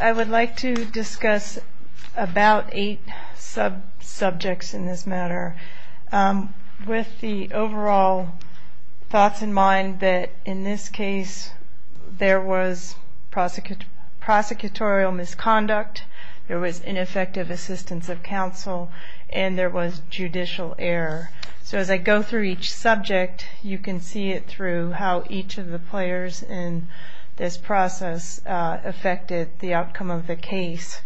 I would like to discuss about 8 sub-subjects in this matter. With the overall thoughts in mind that in this case there was prosecutorial misconduct, there was ineffective assistance of counsel, and there was judicial error. So as I go through each subject, you can see it through how each of the players in this process affected the outcome of the case.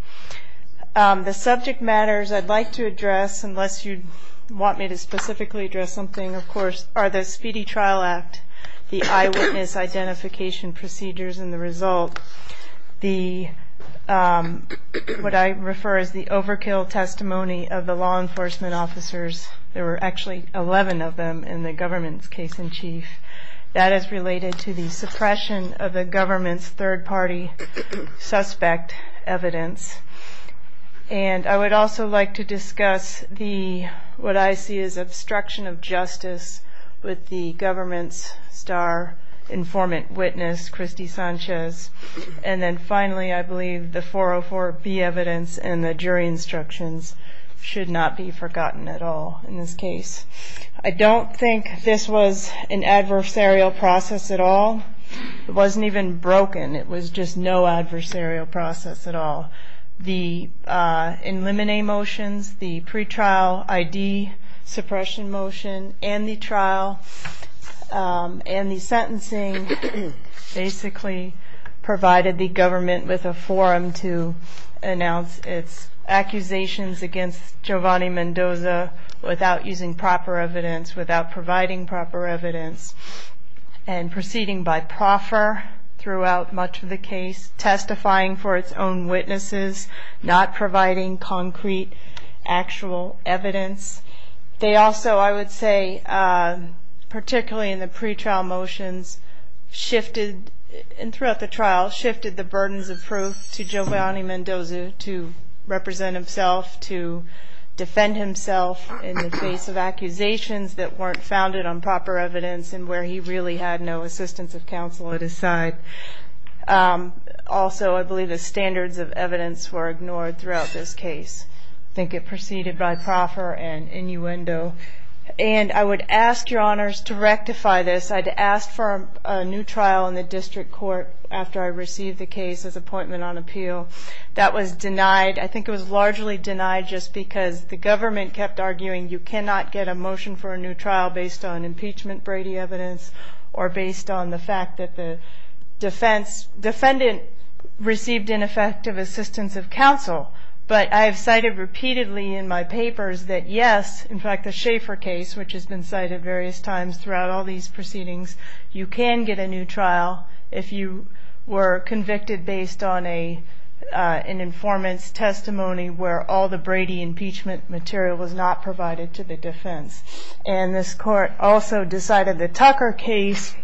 The subject matters I'd like to address, unless you want me to specifically address something, of course, are the Speedy Trial Act, the eyewitness identification procedures, and the result. The, what I refer to as the overkill testimony of the law enforcement officers, there were actually 11 of them in the government's case in chief. That is related to the suppression of the government's third party suspect evidence. And I would also like to discuss the, what I see as obstruction of justice with the government's star informant witness, Christy Sanchez. And then finally, I believe the 404B evidence and the jury instructions should not be forgotten at all in this case. I don't think this was an adversarial process at all. It wasn't even broken. It was just no adversarial process at all. The in limine motions, the pretrial ID suppression motion, and the trial, and the sentencing basically provided the government with a forum to announce its accusations against Giovanni Mendoza without using proper evidence, without providing proper evidence, and proceeding by proffer throughout much of the case, testifying for its own witnesses, not providing concrete actual evidence. They also, I would say, particularly in the pretrial motions, shifted, and throughout the trial, shifted the burdens of proof to Giovanni Mendoza to represent himself, to defend himself in the face of accusations that weren't founded on proper evidence and where he really had no assistance of counsel at his side. Also, I believe the standards of evidence were ignored throughout this case. I think it proceeded by proffer and innuendo. And I would ask your honors to rectify this. I'd asked for a new trial in the district court after I received the case as appointment on appeal. That was denied. I think it was largely denied just because the government kept arguing you cannot get a motion for a new trial based on impeachment Brady evidence or based on the fact that the, the defense, defendant received ineffective assistance of counsel. But I have cited repeatedly in my papers that yes, in fact, the Schaefer case, which has been cited various times throughout all these proceedings, you can get a new trial if you were convicted based on an informant's testimony where all the Brady impeachment material was not provided to the defense. And this court also decided the Tucker case,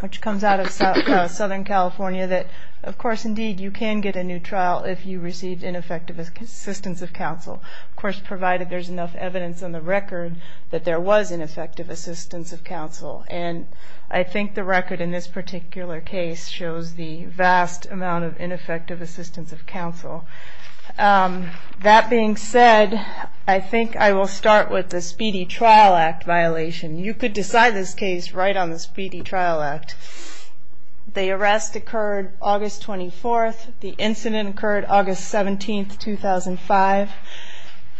which comes out of Southern California, that of course, indeed, you can get a new trial if you received ineffective assistance of counsel, of course, provided there's enough evidence on the record that there was ineffective assistance of counsel. And I think the record in this particular case shows the vast amount of ineffective assistance of counsel. That being said, I think I will start with the Speedy Trial Act violation. You could decide this case right on the Speedy Trial Act. The arrest occurred August 24th. The incident occurred August 17th, 2005.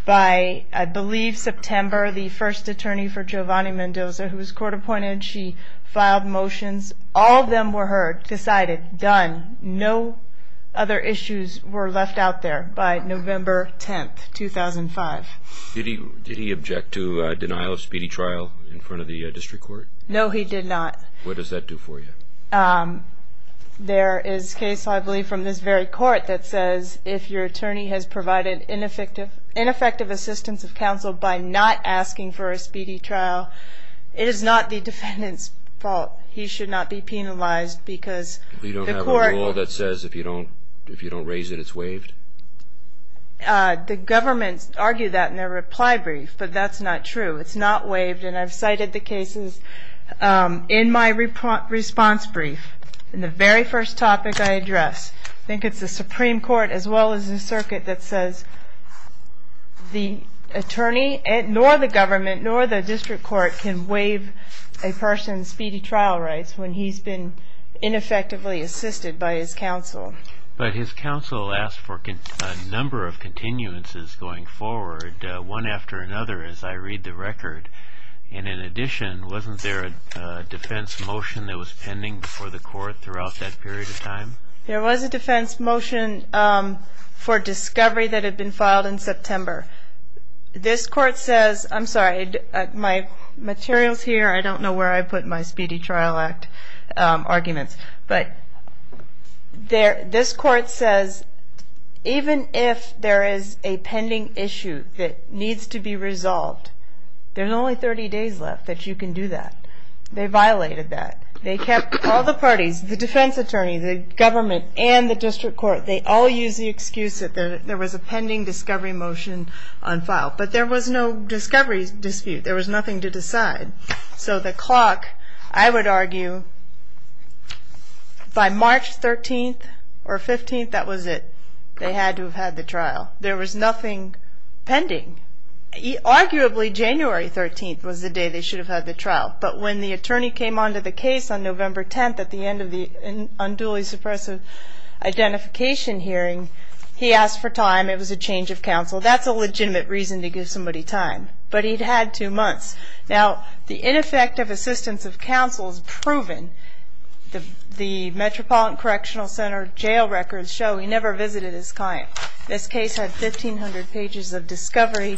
By, I believe, September, the first attorney for Giovanni Mendoza, who was court appointed, she filed motions. All of them were heard, decided, done. No other issues were left out there by November 10th, 2005. Did he object to denial of speedy trial in front of the district court? No, he did not. What does that do for you? There is case, I believe, from this very court that says if your attorney has provided ineffective assistance of counsel by not asking for a speedy trial, it is not the defendant's fault. He should not be penalized because the court... You don't have a rule that says if you don't raise it, it's waived? The government argued that in their reply brief, but that's not true. It's not waived, and I've cited the cases in my response brief, in the very first topic I addressed. I think it's the Supreme Court, as well as the circuit, that says the attorney, nor the government, nor the district court can waive a person's speedy trial rights when he's been ineffectively assisted by his counsel. But his counsel asked for a number of continuances going forward, one after another, as I read the record. And in addition, wasn't there a defense motion that was pending before the court throughout that period of time? There was a defense motion for discovery that had been filed in September. This court says, I'm sorry, my materials here, I don't know where I put my speedy trial act arguments, but this court says even if there is a pending issue that needs to be resolved, there's only 30 days left that you can do that. They violated that. They kept all the parties, the defense attorney, the government, and the district court, they all used the excuse that there was a pending discovery motion on file. But there was no discovery dispute. There was nothing to decide. So the clock, I would argue, by March 13th or 15th, that was it. They had to have had the trial. There was nothing pending. Arguably, January 13th was the day they should have had the trial. But when the attorney came on to the case on November 10th at the end of the unduly suppressive identification hearing, he asked for time. It was a change of counsel. That's a legitimate reason to give somebody time. But he'd had two months. Now, the ineffective assistance of counsel is proven. The Metropolitan Correctional Center jail records show he never visited his client. This case had 1,500 pages of discovery.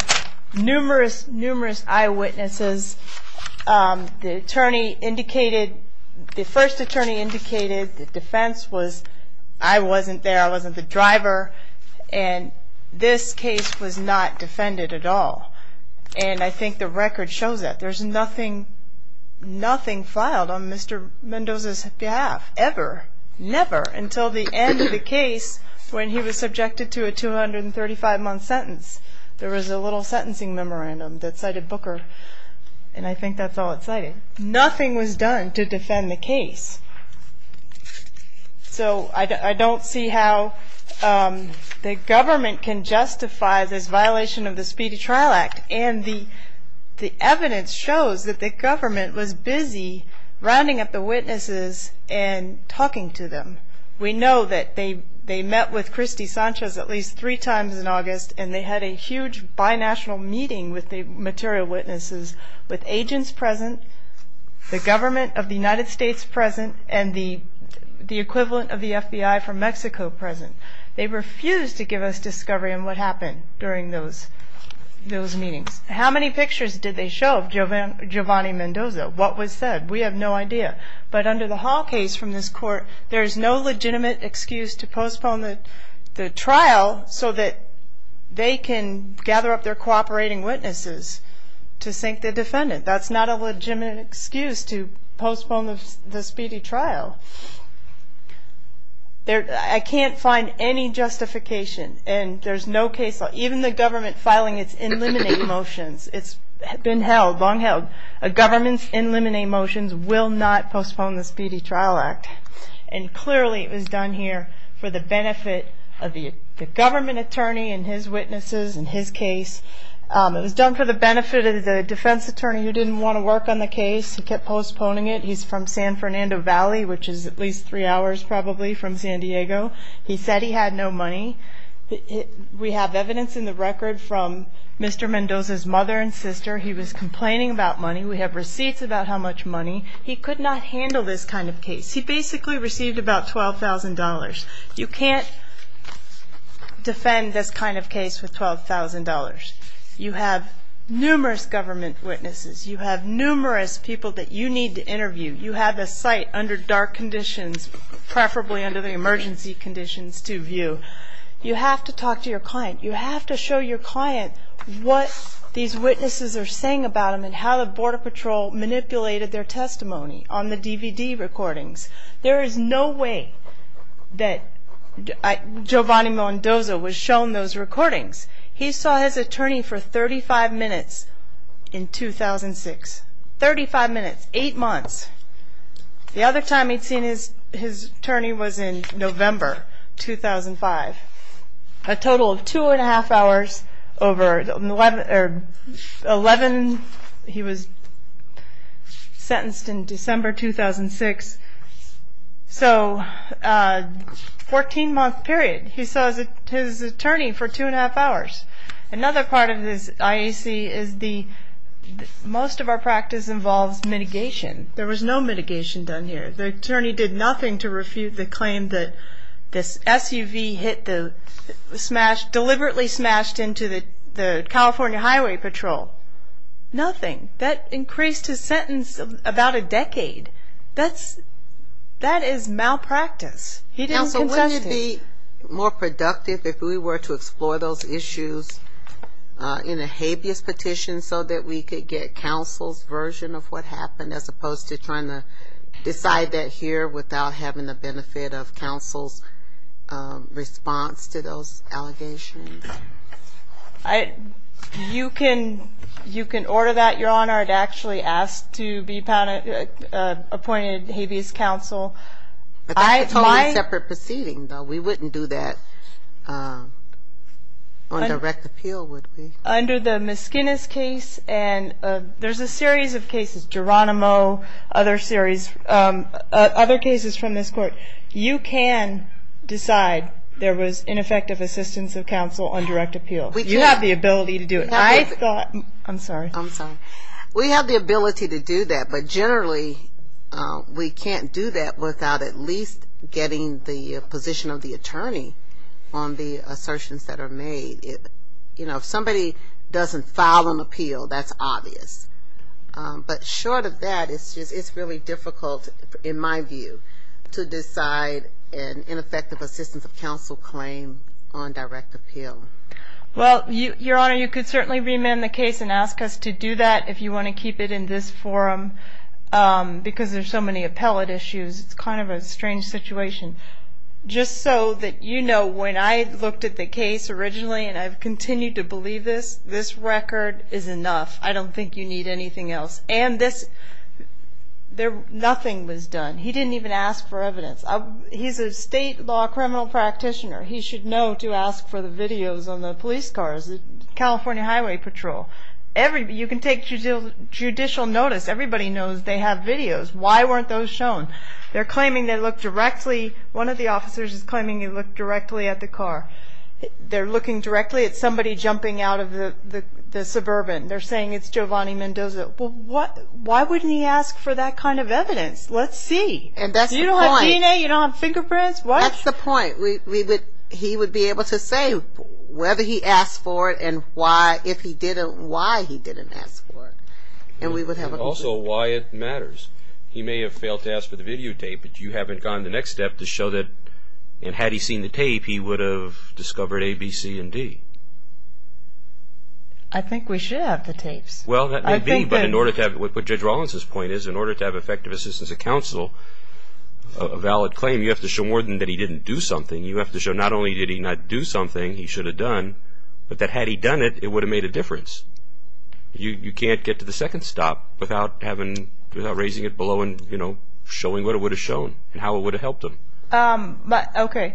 Numerous, numerous eyewitnesses. The attorney indicated, the first attorney indicated the defense was, I wasn't there, I wasn't the driver. And this case was not defended at all. And I think the record shows that. There's nothing, nothing filed on Mr. Mendoza's behalf, ever. Never, until the end of the case, when he was subjected to a 235-month sentence. There was a little sentencing memorandum that cited Booker. And I think that's all it cited. Nothing was done to defend the case. So, I don't see how the government can justify this violation of the Speedy Trial Act. And the evidence shows that the government was busy rounding up the witnesses and talking to them. We know that they met with Christy Sanchez at least three times in August. And they had a huge binational meeting with the material witnesses. With agents present. The government of the United States present. And the equivalent of the FBI from Mexico present. They refused to give us discovery on what happened during those meetings. How many pictures did they show of Giovanni Mendoza? What was said? We have no idea. But under the Hall case from this court, there's no legitimate excuse to postpone the trial so that they can gather up their cooperating witnesses to sink the defendant. That's not a legitimate excuse to postpone the speedy trial. I can't find any justification. And there's no case law. Even the government filing its in limine motions. It's been held, long held. A government's in limine motions will not postpone the Speedy Trial Act. And clearly it was done here for the benefit of the government attorney and his witnesses and his case. It was done for the benefit of the defense attorney who didn't want to work on the case. He kept postponing it. He's from San Fernando Valley, which is at least three hours probably from San Diego. He said he had no money. We have evidence in the record from Mr. Mendoza's mother and sister. He was complaining about money. We have receipts about how much money. He could not handle this kind of case. He basically received about $12,000. You can't defend this kind of case with $12,000. You have numerous government witnesses. You have numerous people that you need to interview. You have a site under dark conditions, preferably under the emergency conditions, to view. You have to talk to your client. You have to show your client what these witnesses are saying about him and how the Border Patrol manipulated their testimony on the DVD recordings. There is no way that Giovanni Mendoza was shown those recordings. He saw his attorney for 35 minutes in 2006. Thirty-five minutes, eight months. The other time he'd seen his attorney was in November 2005. A total of two and a half hours over 11. He was sentenced in December 2006. So a 14-month period. He saw his attorney for two and a half hours. Another part of this IAC is most of our practice involves mitigation. There was no mitigation done here. The attorney did nothing to refute the claim that this SUV deliberately smashed into the California Highway Patrol. Nothing. That increased his sentence about a decade. That is malpractice. He didn't contest it. Counsel, wouldn't it be more productive if we were to explore those issues in a habeas petition so that we could get counsel's version of what happened as opposed to trying to decide that here without having the benefit of counsel's response to those allegations? You can order that, Your Honor. I'd actually ask to be appointed habeas counsel. But that's a totally separate proceeding, though. We wouldn't do that on direct appeal, would we? Under the Miskinnis case and there's a series of cases, Geronimo, other series, other cases from this court. You can decide there was ineffective assistance of counsel on direct appeal. You have the ability to do it. I'm sorry. I'm sorry. We have the ability to do that, but generally we can't do that without at least getting the position of the attorney on the assertions that are made. You know, if somebody doesn't file an appeal, that's obvious. But short of that, it's really difficult, in my view, to decide an ineffective assistance of counsel claim on direct appeal. Well, Your Honor, you could certainly remand the case and ask us to do that if you want to keep it in this forum because there's so many appellate issues. It's kind of a strange situation. Just so that you know, when I looked at the case originally and I've continued to believe this, this record is enough. I don't think you need anything else. And this, nothing was done. He didn't even ask for evidence. He's a state law criminal practitioner. He should know to ask for the videos on the police cars, California Highway Patrol. You can take judicial notice. Everybody knows they have videos. Why weren't those shown? They're claiming they looked directly. One of the officers is claiming he looked directly at the car. They're looking directly at somebody jumping out of the suburban. They're saying it's Giovanni Mendoza. Why wouldn't he ask for that kind of evidence? Let's see. You don't have DNA? You don't have fingerprints? What? That's the point. He would be able to say whether he asked for it and why, if he didn't, why he didn't ask for it. And we would have a conclusion. And also why it matters. He may have failed to ask for the videotape, but you haven't gone the next step to show that, and had he seen the tape, he would have discovered A, B, C, and D. I think we should have the tapes. Well, that may be, but in order to have, what Judge Rollins' point is, in order to have effective assistance of counsel, a valid claim, you have to show more than that he didn't do something. You have to show not only did he not do something he should have done, but that had he done it, it would have made a difference. You can't get to the second stop without raising it below and showing what it would have shown and how it would have helped him. Okay.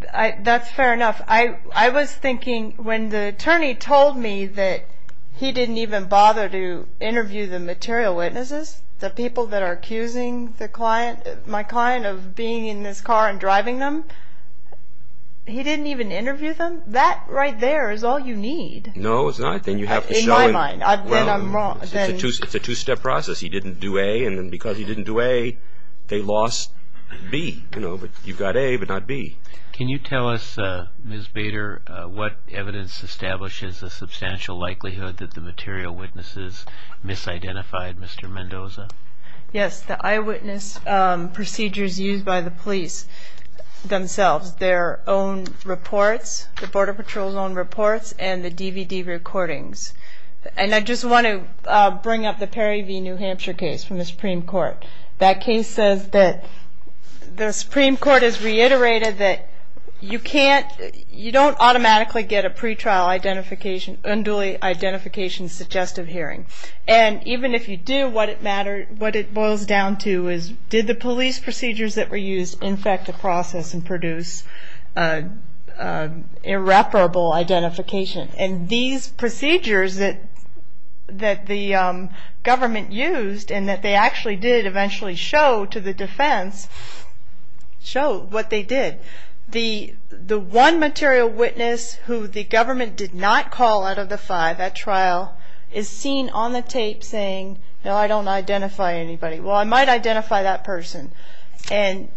That's fair enough. I was thinking when the attorney told me that he didn't even bother to interview the material witnesses, the people that are accusing my client of being in this car and driving them, he didn't even interview them? That right there is all you need. No, it's not. In my mind, then I'm wrong. It's a two-step process. He didn't do A, and then because he didn't do A, they lost B. You've got A, but not B. Can you tell us, Ms. Bader, what evidence establishes the substantial likelihood that the material witnesses misidentified Mr. Mendoza? Yes, the eyewitness procedures used by the police themselves, their own reports, the Border Patrol's own reports, and the DVD recordings. And I just want to bring up the Perry v. New Hampshire case from the Supreme Court. That case says that the Supreme Court has reiterated that you can't, you don't automatically get a pre-trial unduly identification suggestive hearing. And even if you do, what it boils down to is did the police procedures that were used infect the process and produce irreparable identification? And these procedures that the government used, and that they actually did eventually show to the defense, show what they did. The one material witness who the government did not call out of the five at trial is seen on the tape saying, no, I don't identify anybody. Well, I might identify that person. And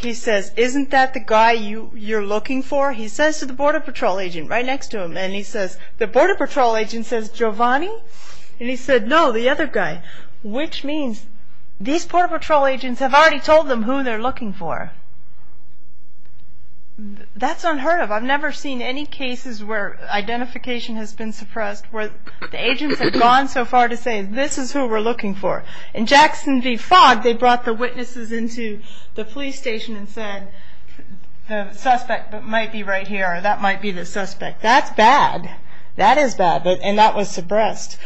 he says, isn't that the guy you're looking for? He says to the Border Patrol agent right next to him, and he says, the Border Patrol agent says, Giovanni? And he said, no, the other guy. Which means these Border Patrol agents have already told them who they're looking for. That's unheard of. I've never seen any cases where identification has been suppressed, where the agents have gone so far to say, this is who we're looking for. In Jackson v. Fogg, they brought the witnesses into the police station and said, the suspect might be right here, or that might be the suspect. That's bad. That is bad. And that was suppressed.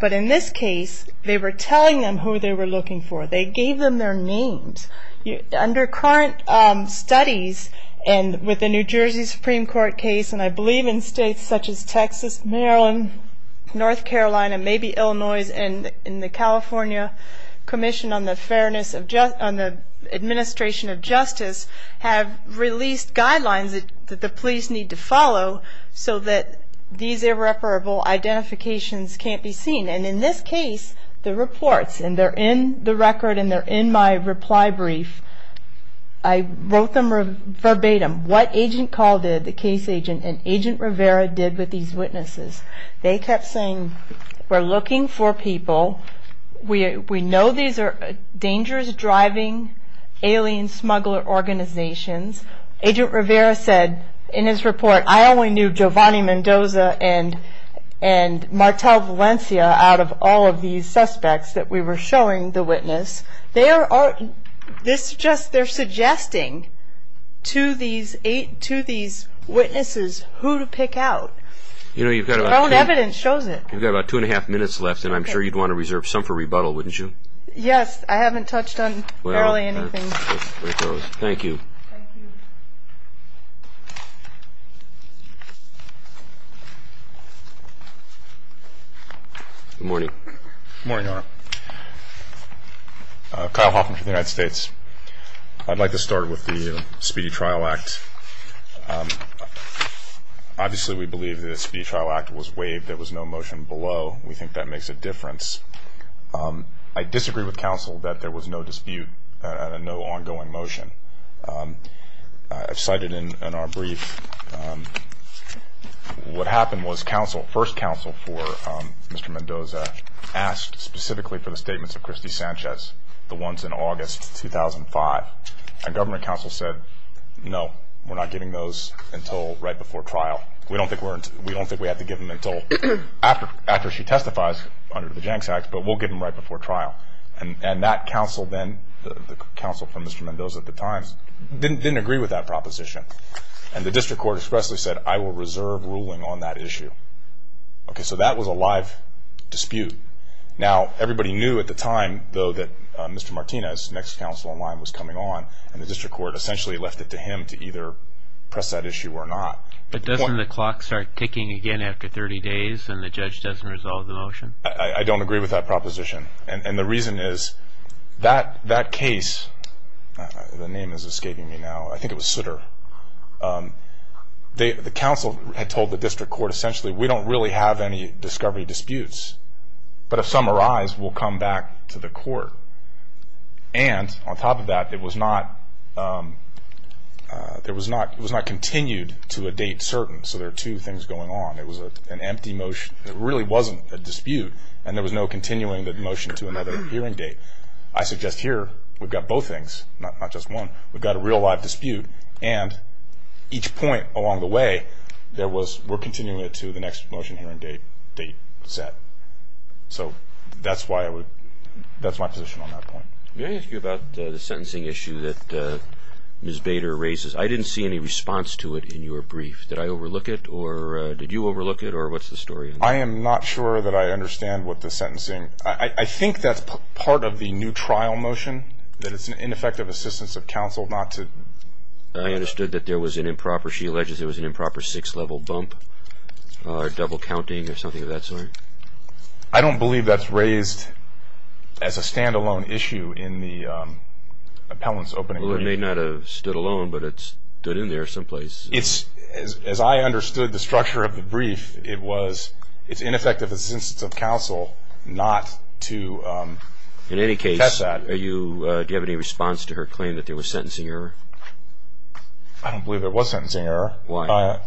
But in this case, they were telling them who they were looking for. They gave them their names. Under current studies, and with the New Jersey Supreme Court case, and I believe in states such as Texas, Maryland, North Carolina, maybe Illinois, and the California Commission on the Administration of Justice have released guidelines that the police need to follow so that these irreparable identifications can't be seen. And in this case, the reports, and they're in the record, and they're in my reply brief. I wrote them verbatim what Agent Call did, the case agent, and Agent Rivera did with these witnesses. They kept saying, we're looking for people. We know these are dangerous driving alien smuggler organizations. Agent Rivera said in his report, I only knew Giovanni Mendoza and Martel Valencia out of all of these suspects that we were showing the witness. They're suggesting to these witnesses who to pick out. Your own evidence shows it. You've got about two and a half minutes left, and I'm sure you'd want to reserve some for rebuttal, wouldn't you? Yes, I haven't touched on barely anything. Thank you. Good morning. Good morning, Your Honor. Kyle Hoffman from the United States. I'd like to start with the Speedy Trial Act. Obviously, we believe the Speedy Trial Act was waived. There was no motion below. We think that makes a difference. I disagree with counsel that there was no dispute and no ongoing motion. As cited in our brief, what happened was first counsel for Mr. Mendoza asked specifically for the statements of Christy Sanchez, the ones in August 2005. And government counsel said, no, we're not giving those until right before trial. We don't think we have to give them until after she testifies under the Janx Act, but we'll give them right before trial. And that counsel then, the counsel for Mr. Mendoza at the time, didn't agree with that proposition. And the district court expressly said, I will reserve ruling on that issue. Okay, so that was a live dispute. Now, everybody knew at the time, though, that Mr. Martinez, next counsel in line, was coming on, and the district court essentially left it to him to either press that issue or not. But doesn't the clock start ticking again after 30 days and the judge doesn't resolve the motion? I don't agree with that proposition. And the reason is that case, the name is escaping me now, I think it was Sutter, the counsel had told the district court essentially, we don't really have any discovery disputes. But if some arise, we'll come back to the court. And on top of that, it was not continued to a date certain, so there are two things going on. It was an empty motion. It really wasn't a dispute, and there was no continuing the motion to another hearing date. I suggest here we've got both things, not just one. We've got a real live dispute, and each point along the way, we're continuing it to the next motion hearing date set. So that's my position on that point. May I ask you about the sentencing issue that Ms. Bader raises? I didn't see any response to it in your brief. Did I overlook it, or did you overlook it, or what's the story on that? I am not sure that I understand what the sentencing – I think that's part of the new trial motion, that it's an ineffective assistance of counsel not to – I understood that there was an improper – she alleges there was an improper six-level bump, or double counting, or something of that sort. I don't believe that's raised as a stand-alone issue in the appellant's opening. Well, it may not have stood alone, but it stood in there someplace. As I understood the structure of the brief, it's ineffective assistance of counsel not to test that. In any case, do you have any response to her claim that there was sentencing error? I don't believe there was sentencing error. Why not?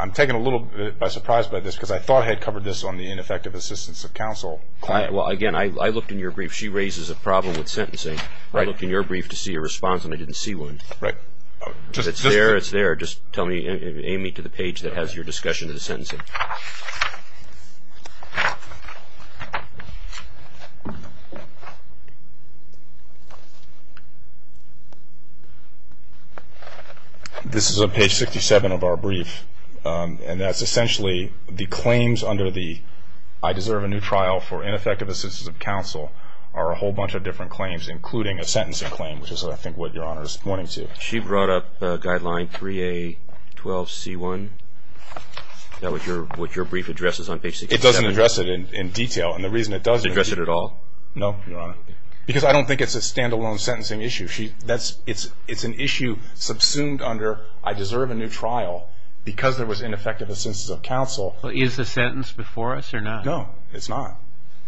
I'm taken a little bit by surprise by this, because I thought I had covered this on the ineffective assistance of counsel claim. Well, again, I looked in your brief. She raises a problem with sentencing. I looked in your brief to see a response, and I didn't see one. If it's there, it's there. Just aim me to the page that has your discussion of the sentencing. This is on page 67 of our brief, and that's essentially the claims under the I deserve a new trial for ineffective assistance of counsel are a whole bunch of different claims, including a sentencing claim, which is, I think, what Your Honor is pointing to. She brought up Guideline 3A12C1. Is that what your brief addresses on page 67? It doesn't address it in detail, and the reason it does address it... It doesn't address it at all? No, Your Honor, because I don't think it's a stand-alone sentencing issue. It's an issue subsumed under I deserve a new trial because there was ineffective assistance of counsel. Is the sentence before us or not? No, it's not.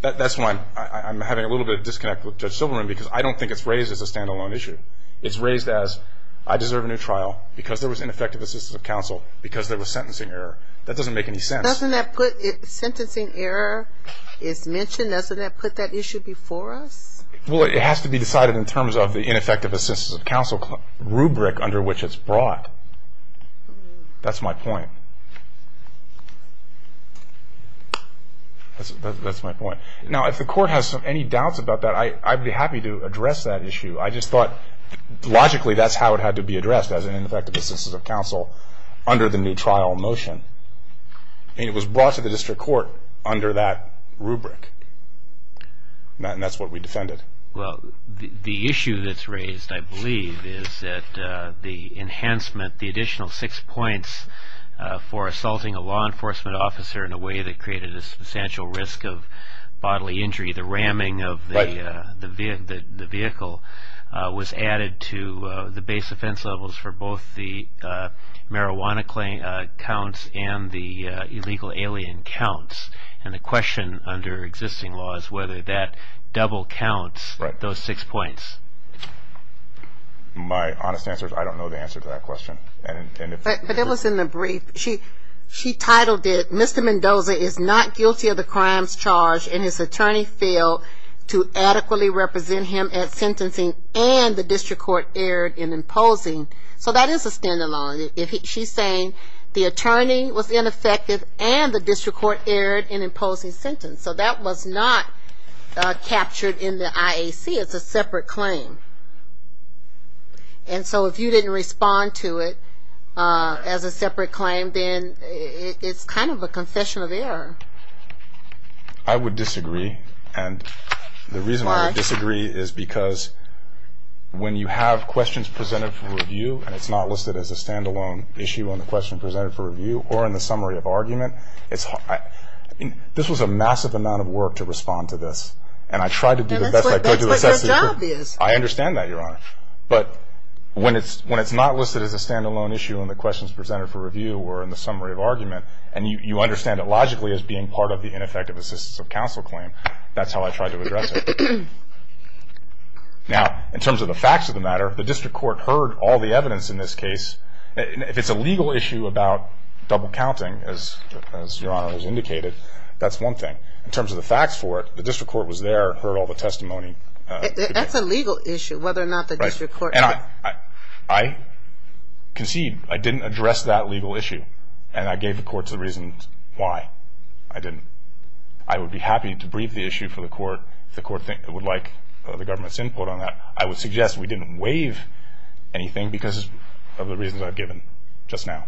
That's why I'm having a little bit of disconnect with Judge Silverman, because I don't think it's raised as a stand-alone issue. It's raised as, I deserve a new trial because there was ineffective assistance of counsel because there was sentencing error. That doesn't make any sense. Doesn't that put... Sentencing error is mentioned. Doesn't that put that issue before us? Well, it has to be decided in terms of the ineffective assistance of counsel rubric under which it's brought. That's my point. That's my point. Now, if the Court has any doubts about that, I'd be happy to address that issue. I just thought, logically, that's how it had to be addressed, as an ineffective assistance of counsel under the new trial motion. It was brought to the District Court under that rubric, and that's what we defended. Well, the issue that's raised, I believe, is that the enhancement, the additional six points for assaulting a law enforcement officer in a way that created a substantial risk of bodily injury, the ramming of the vehicle was added to the base offense levels for both the marijuana counts and the illegal alien counts. And the question under existing law is whether that double counts those six points. My honest answer is I don't know the answer to that question. But it was in the brief. She titled it, and his attorney failed to adequately represent him at sentencing, and the District Court erred in imposing. So that is a stand-alone. She's saying the attorney was ineffective, and the District Court erred in imposing sentence. So that was not captured in the IAC as a separate claim. And so if you didn't respond to it as a separate claim, then it's kind of a confession of error. I would disagree, and the reason I would disagree is because when you have questions presented for review and it's not listed as a stand-alone issue on the question presented for review or in the summary of argument, this was a massive amount of work to respond to this, and I tried to do the best I could to assess it. That's what your job is. I understand that, Your Honor. But when it's not listed as a stand-alone issue and the questions presented for review were in the summary of argument, and you understand it logically as being part of the ineffective assistance of counsel claim, that's how I tried to address it. Now, in terms of the facts of the matter, the District Court heard all the evidence in this case. If it's a legal issue about double-counting, as Your Honor has indicated, that's one thing. In terms of the facts for it, the District Court was there, That's a legal issue, whether or not the District Court heard it. I concede I didn't address that legal issue, and I gave the Court the reasons why I didn't. I would be happy to brief the issue for the Court if the Court would like the government's input on that. I would suggest we didn't waive anything because of the reasons I've given just now.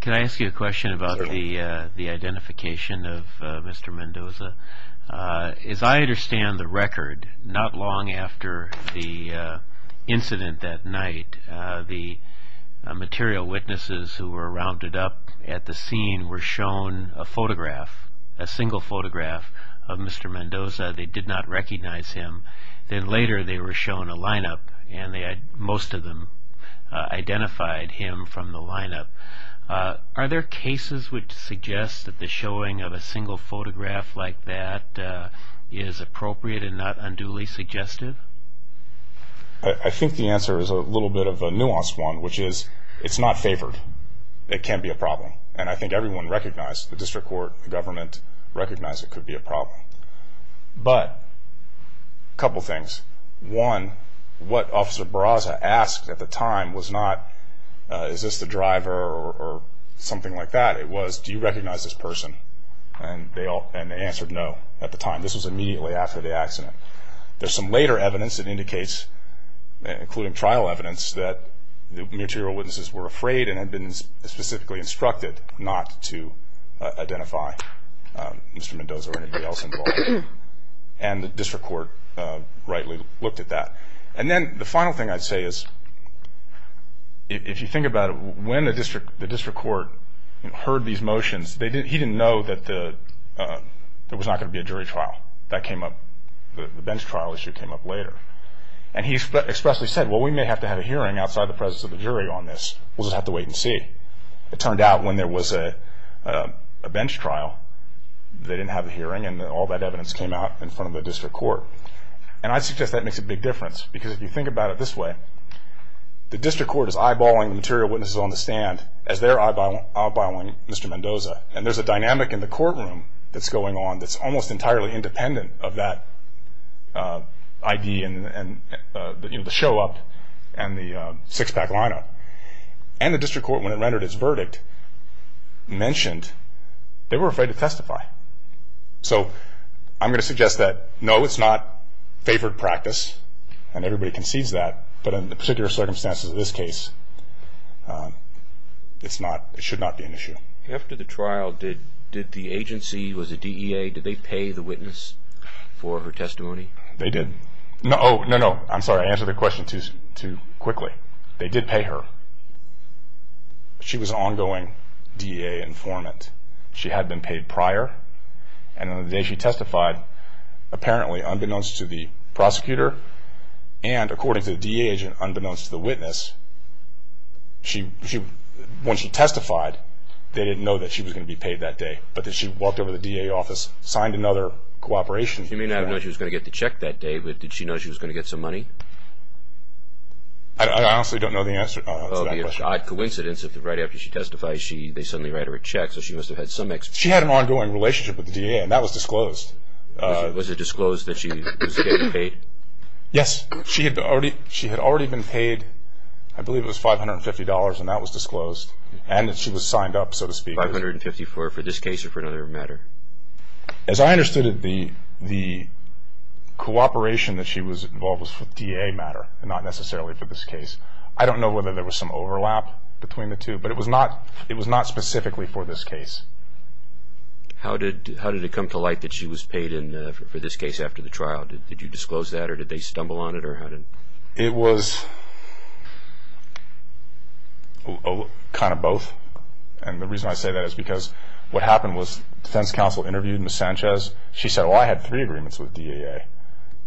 Can I ask you a question about the identification of Mr. Mendoza? As I understand the record, not long after the incident that night, the material witnesses who were rounded up at the scene were shown a photograph, a single photograph of Mr. Mendoza. They did not recognize him. Then later they were shown a lineup, and most of them identified him from the lineup. Are there cases which suggest that the showing of a single photograph like that is appropriate and not unduly suggestive? I think the answer is a little bit of a nuanced one, which is it's not favored. It can be a problem. And I think everyone recognized, the District Court, the government, recognized it could be a problem. But a couple things. One, what Officer Barraza asked at the time was not, is this the driver or something like that. It was, do you recognize this person? And they answered no at the time. This was immediately after the accident. There's some later evidence that indicates, including trial evidence, that the material witnesses were afraid and had been specifically instructed not to identify Mr. Mendoza or anybody else involved. And the District Court rightly looked at that. And then the final thing I'd say is, if you think about it, when the District Court heard these motions, he didn't know that there was not going to be a jury trial. That came up, the bench trial issue came up later. And he expressly said, well, we may have to have a hearing outside the presence of the jury on this. We'll just have to wait and see. It turned out when there was a bench trial, they didn't have a hearing, and all that evidence came out in front of the District Court. And I suggest that makes a big difference, because if you think about it this way, the District Court is eyeballing the material witnesses on the stand as they're eyeballing Mr. Mendoza. And there's a dynamic in the courtroom that's going on that's almost entirely independent of that ID and the show up and the six-pack lineup. And the District Court, when it rendered its verdict, mentioned they were afraid to testify. So I'm going to suggest that, no, it's not favored practice, and everybody concedes that, but in the particular circumstances of this case, it should not be an issue. After the trial, did the agency, was it DEA, did they pay the witness for her testimony? They did. Oh, no, no, I'm sorry, I answered the question too quickly. They did pay her. She was an ongoing DEA informant. She had been paid prior, and on the day she testified, apparently, unbeknownst to the prosecutor and according to the DEA agent, unbeknownst to the witness, when she testified, they didn't know that she was going to be paid that day. But then she walked over to the DEA office, signed another cooperation. You may not have known she was going to get the check that day, but did she know she was going to get some money? I honestly don't know the answer to that question. It would be an odd coincidence if right after she testifies, they suddenly write her a check, so she must have had some experience. She had an ongoing relationship with the DEA, and that was disclosed. Was it disclosed that she was getting paid? Yes. She had already been paid, I believe it was $550, and that was disclosed, and that she was signed up, so to speak. $550 for this case or for another matter? As I understood it, the cooperation that she was involved with was for DEA matter, not necessarily for this case. I don't know whether there was some overlap between the two, but it was not specifically for this case. How did it come to light that she was paid for this case after the trial? Did you disclose that, or did they stumble on it? It was kind of both. And the reason I say that is because what happened was the defense counsel interviewed Ms. Sanchez. She said, well, I had three agreements with DEA,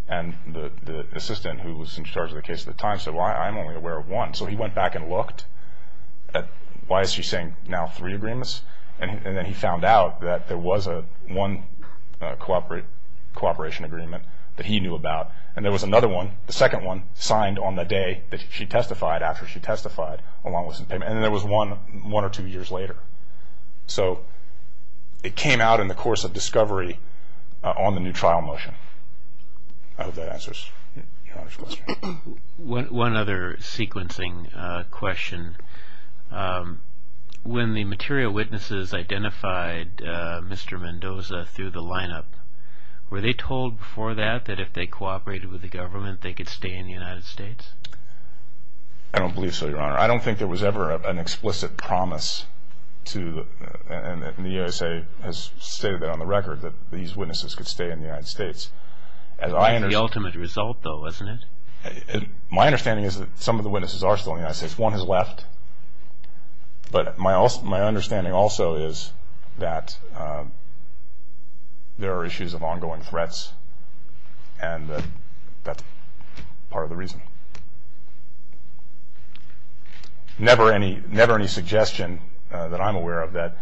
and the assistant who was in charge of the case at the time said, well, I'm only aware of one. So he went back and looked at why is she saying now three agreements, and then he found out that there was one cooperation agreement that he knew about, and there was another one, the second one, signed on the day that she testified, after she testified, along with some payment. And there was one one or two years later. So it came out in the course of discovery on the new trial motion. I hope that answers your question. One other sequencing question. When the material witnesses identified Mr. Mendoza through the lineup, were they told before that that if they cooperated with the government, they could stay in the United States? I don't believe so, Your Honor. I don't think there was ever an explicit promise, and the USA has stated that on the record, that these witnesses could stay in the United States. That's the ultimate result, though, isn't it? My understanding is that some of the witnesses are still in the United States. One has left. But my understanding also is that there are issues of ongoing threats, and that's part of the reason. Never any suggestion that I'm aware of that.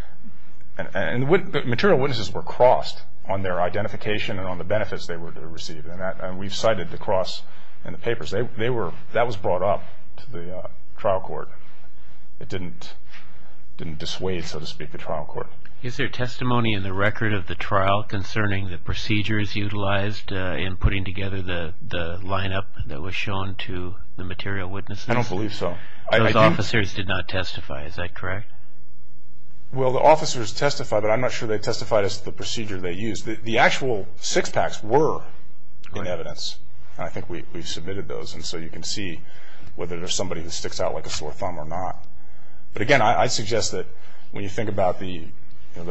Material witnesses were crossed on their identification and on the benefits they were to receive, and we've cited the cross in the papers. That was brought up to the trial court. It didn't dissuade, so to speak, the trial court. Is there testimony in the record of the trial concerning the procedures utilized in putting together the lineup that was shown to the material witnesses? I don't believe so. Those officers did not testify. Is that correct? Well, the officers testified, but I'm not sure they testified as to the procedure they used. The actual six-packs were in evidence, and I think we've submitted those, and so you can see whether there's somebody who sticks out like a sore thumb or not. But again, I suggest that when you think about the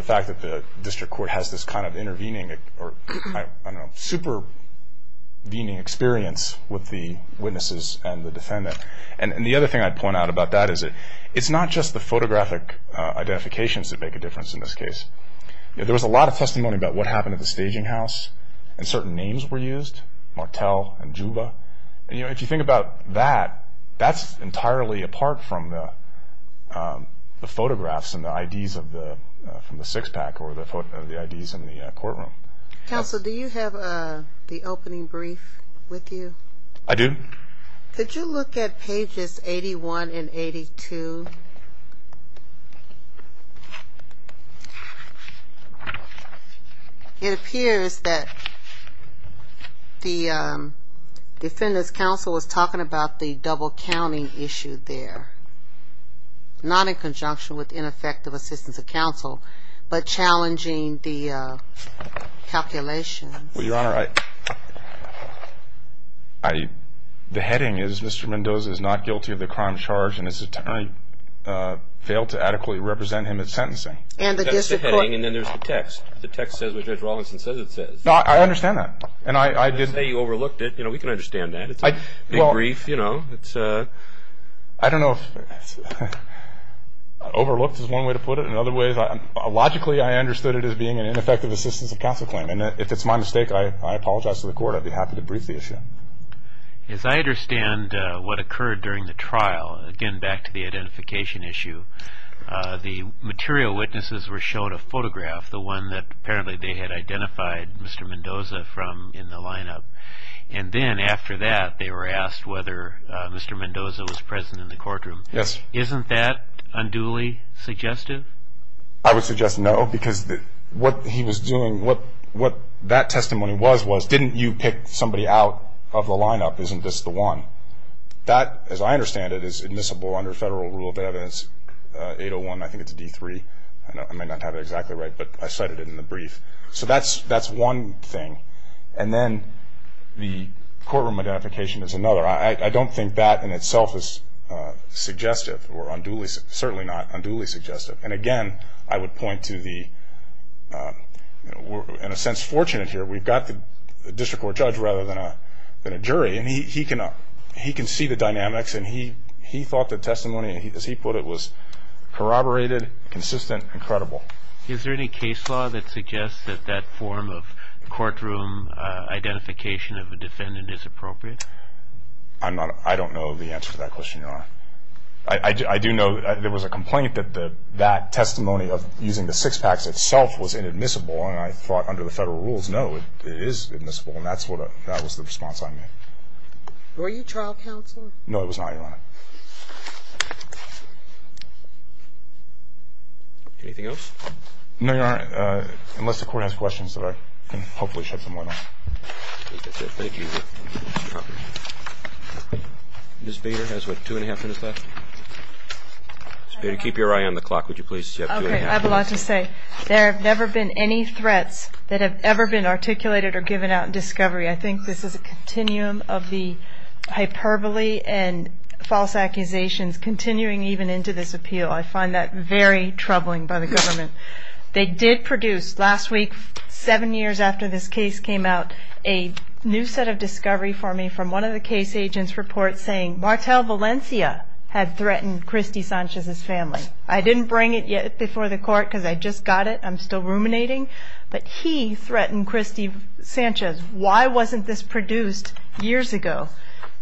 fact that the district court has this kind of intervening or, I don't know, supervening experience with the witnesses and the defendant. And the other thing I'd point out about that is it's not just the photographic identifications that make a difference in this case. There was a lot of testimony about what happened at the staging house and certain names were used, Martel and Juba. If you think about that, that's entirely apart from the photographs and the IDs from the six-pack or the IDs in the courtroom. Counsel, do you have the opening brief with you? I do. Could you look at pages 81 and 82? It appears that the defendant's counsel was talking about the double-counting issue there, not in conjunction with ineffective assistance of counsel, but challenging the calculations. Well, Your Honor, the heading is Mr. Mendoza is not guilty of the crime charged and his attorney failed to adequately represent him at sentencing. And the district court. That's the heading and then there's the text. The text says what Judge Rawlinson says it says. I understand that. Let's say you overlooked it. You know, we can understand that. It's a big brief, you know. I don't know if overlooked is one way to put it. In other ways, logically I understood it as being an ineffective assistance of counsel claim. And if it's my mistake, I apologize to the court. I'd be happy to brief the issue. As I understand what occurred during the trial, again back to the identification issue, the material witnesses were shown a photograph, the one that apparently they had identified Mr. Mendoza from in the lineup. And then after that they were asked whether Mr. Mendoza was present in the courtroom. Yes. Isn't that unduly suggestive? I would suggest no because what he was doing, what that testimony was, was didn't you pick somebody out of the lineup? Isn't this the one? That, as I understand it, is admissible under federal rule of evidence 801. I think it's D3. I may not have it exactly right, but I cited it in the brief. So that's one thing. And then the courtroom identification is another. I don't think that in itself is suggestive or unduly, certainly not unduly suggestive. And, again, I would point to the, in a sense, fortunate here. We've got the district court judge rather than a jury, and he can see the dynamics and he thought the testimony, as he put it, was corroborated, consistent, and credible. Is there any case law that suggests that that form of courtroom identification of a defendant is appropriate? I do know there was a complaint that that testimony of using the six-packs itself was inadmissible, and I thought under the federal rules, no, it is admissible, and that was the response I made. Were you trial counsel? No, it was not, Your Honor. Anything else? No, Your Honor, unless the court has questions that I can hopefully shed some light on. Thank you. Ms. Bader has, what, two and a half minutes left? Ms. Bader, keep your eye on the clock, would you please? Okay, I have a lot to say. There have never been any threats that have ever been articulated or given out in discovery. I think this is a continuum of the hyperbole and false accusations continuing even into this appeal. I find that very troubling by the government. They did produce last week, seven years after this case came out, a new set of discovery for me from one of the case agents' reports saying Martel Valencia had threatened Christy Sanchez's family. I didn't bring it yet before the court because I just got it. I'm still ruminating, but he threatened Christy Sanchez. Why wasn't this produced years ago?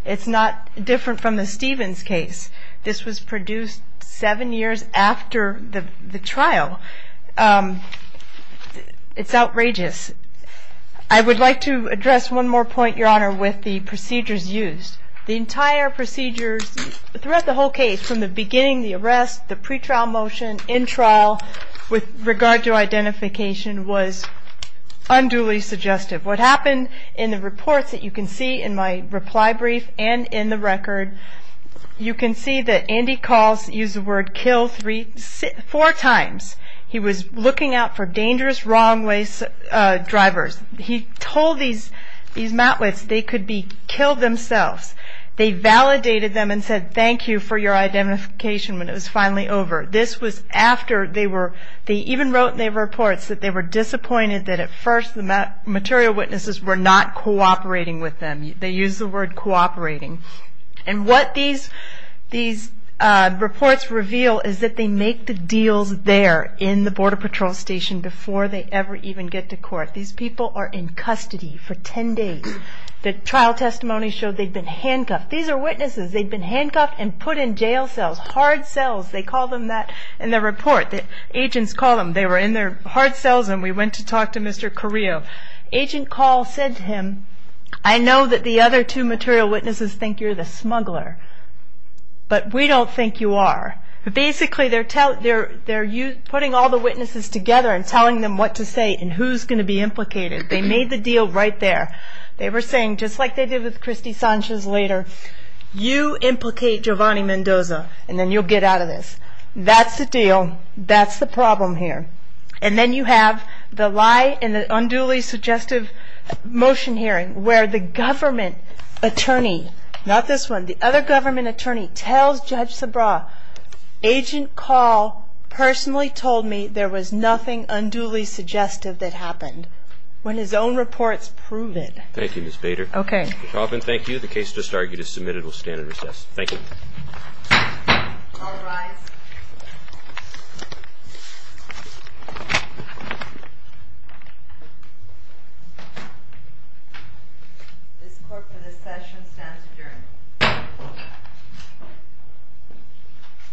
It's not different from the Stevens case. This was produced seven years after the trial. It's outrageous. I would like to address one more point, Your Honor, with the procedures used. The entire procedures throughout the whole case from the beginning, the arrest, the pretrial motion, in trial with regard to identification was unduly suggestive. What happened in the reports that you can see in my reply brief and in the record, you can see that Andy Calls used the word kill four times. He was looking out for dangerous wrong-way drivers. He told these Matwits they could be killed themselves. They validated them and said thank you for your identification when it was finally over. This was after they even wrote in their reports that they were disappointed that at first the material witnesses were not cooperating with them. They used the word cooperating. What these reports reveal is that they make the deals there in the Border Patrol Station before they ever even get to court. These people are in custody for 10 days. The trial testimony showed they'd been handcuffed. These are witnesses. They'd been handcuffed and put in jail cells, hard cells. They call them that in their report. The agents call them. They were in their hard cells, and we went to talk to Mr. Carrillo. Agent Call said to him, I know that the other two material witnesses think you're the smuggler, but we don't think you are. Basically, they're putting all the witnesses together and telling them what to say and who's going to be implicated. They made the deal right there. They were saying, just like they did with Christy Sanchez later, you implicate Giovanni Mendoza, and then you'll get out of this. That's the deal. That's the problem here. And then you have the lie in the unduly suggestive motion hearing where the government attorney, not this one, the other government attorney tells Judge Sabra, Agent Call personally told me there was nothing unduly suggestive that happened, when his own reports prove it. Thank you, Ms. Bader. Okay. Ms. Hoffman, thank you. The case just argued is submitted. We'll stand and recess. Thank you. All rise. This court for this session stands adjourned.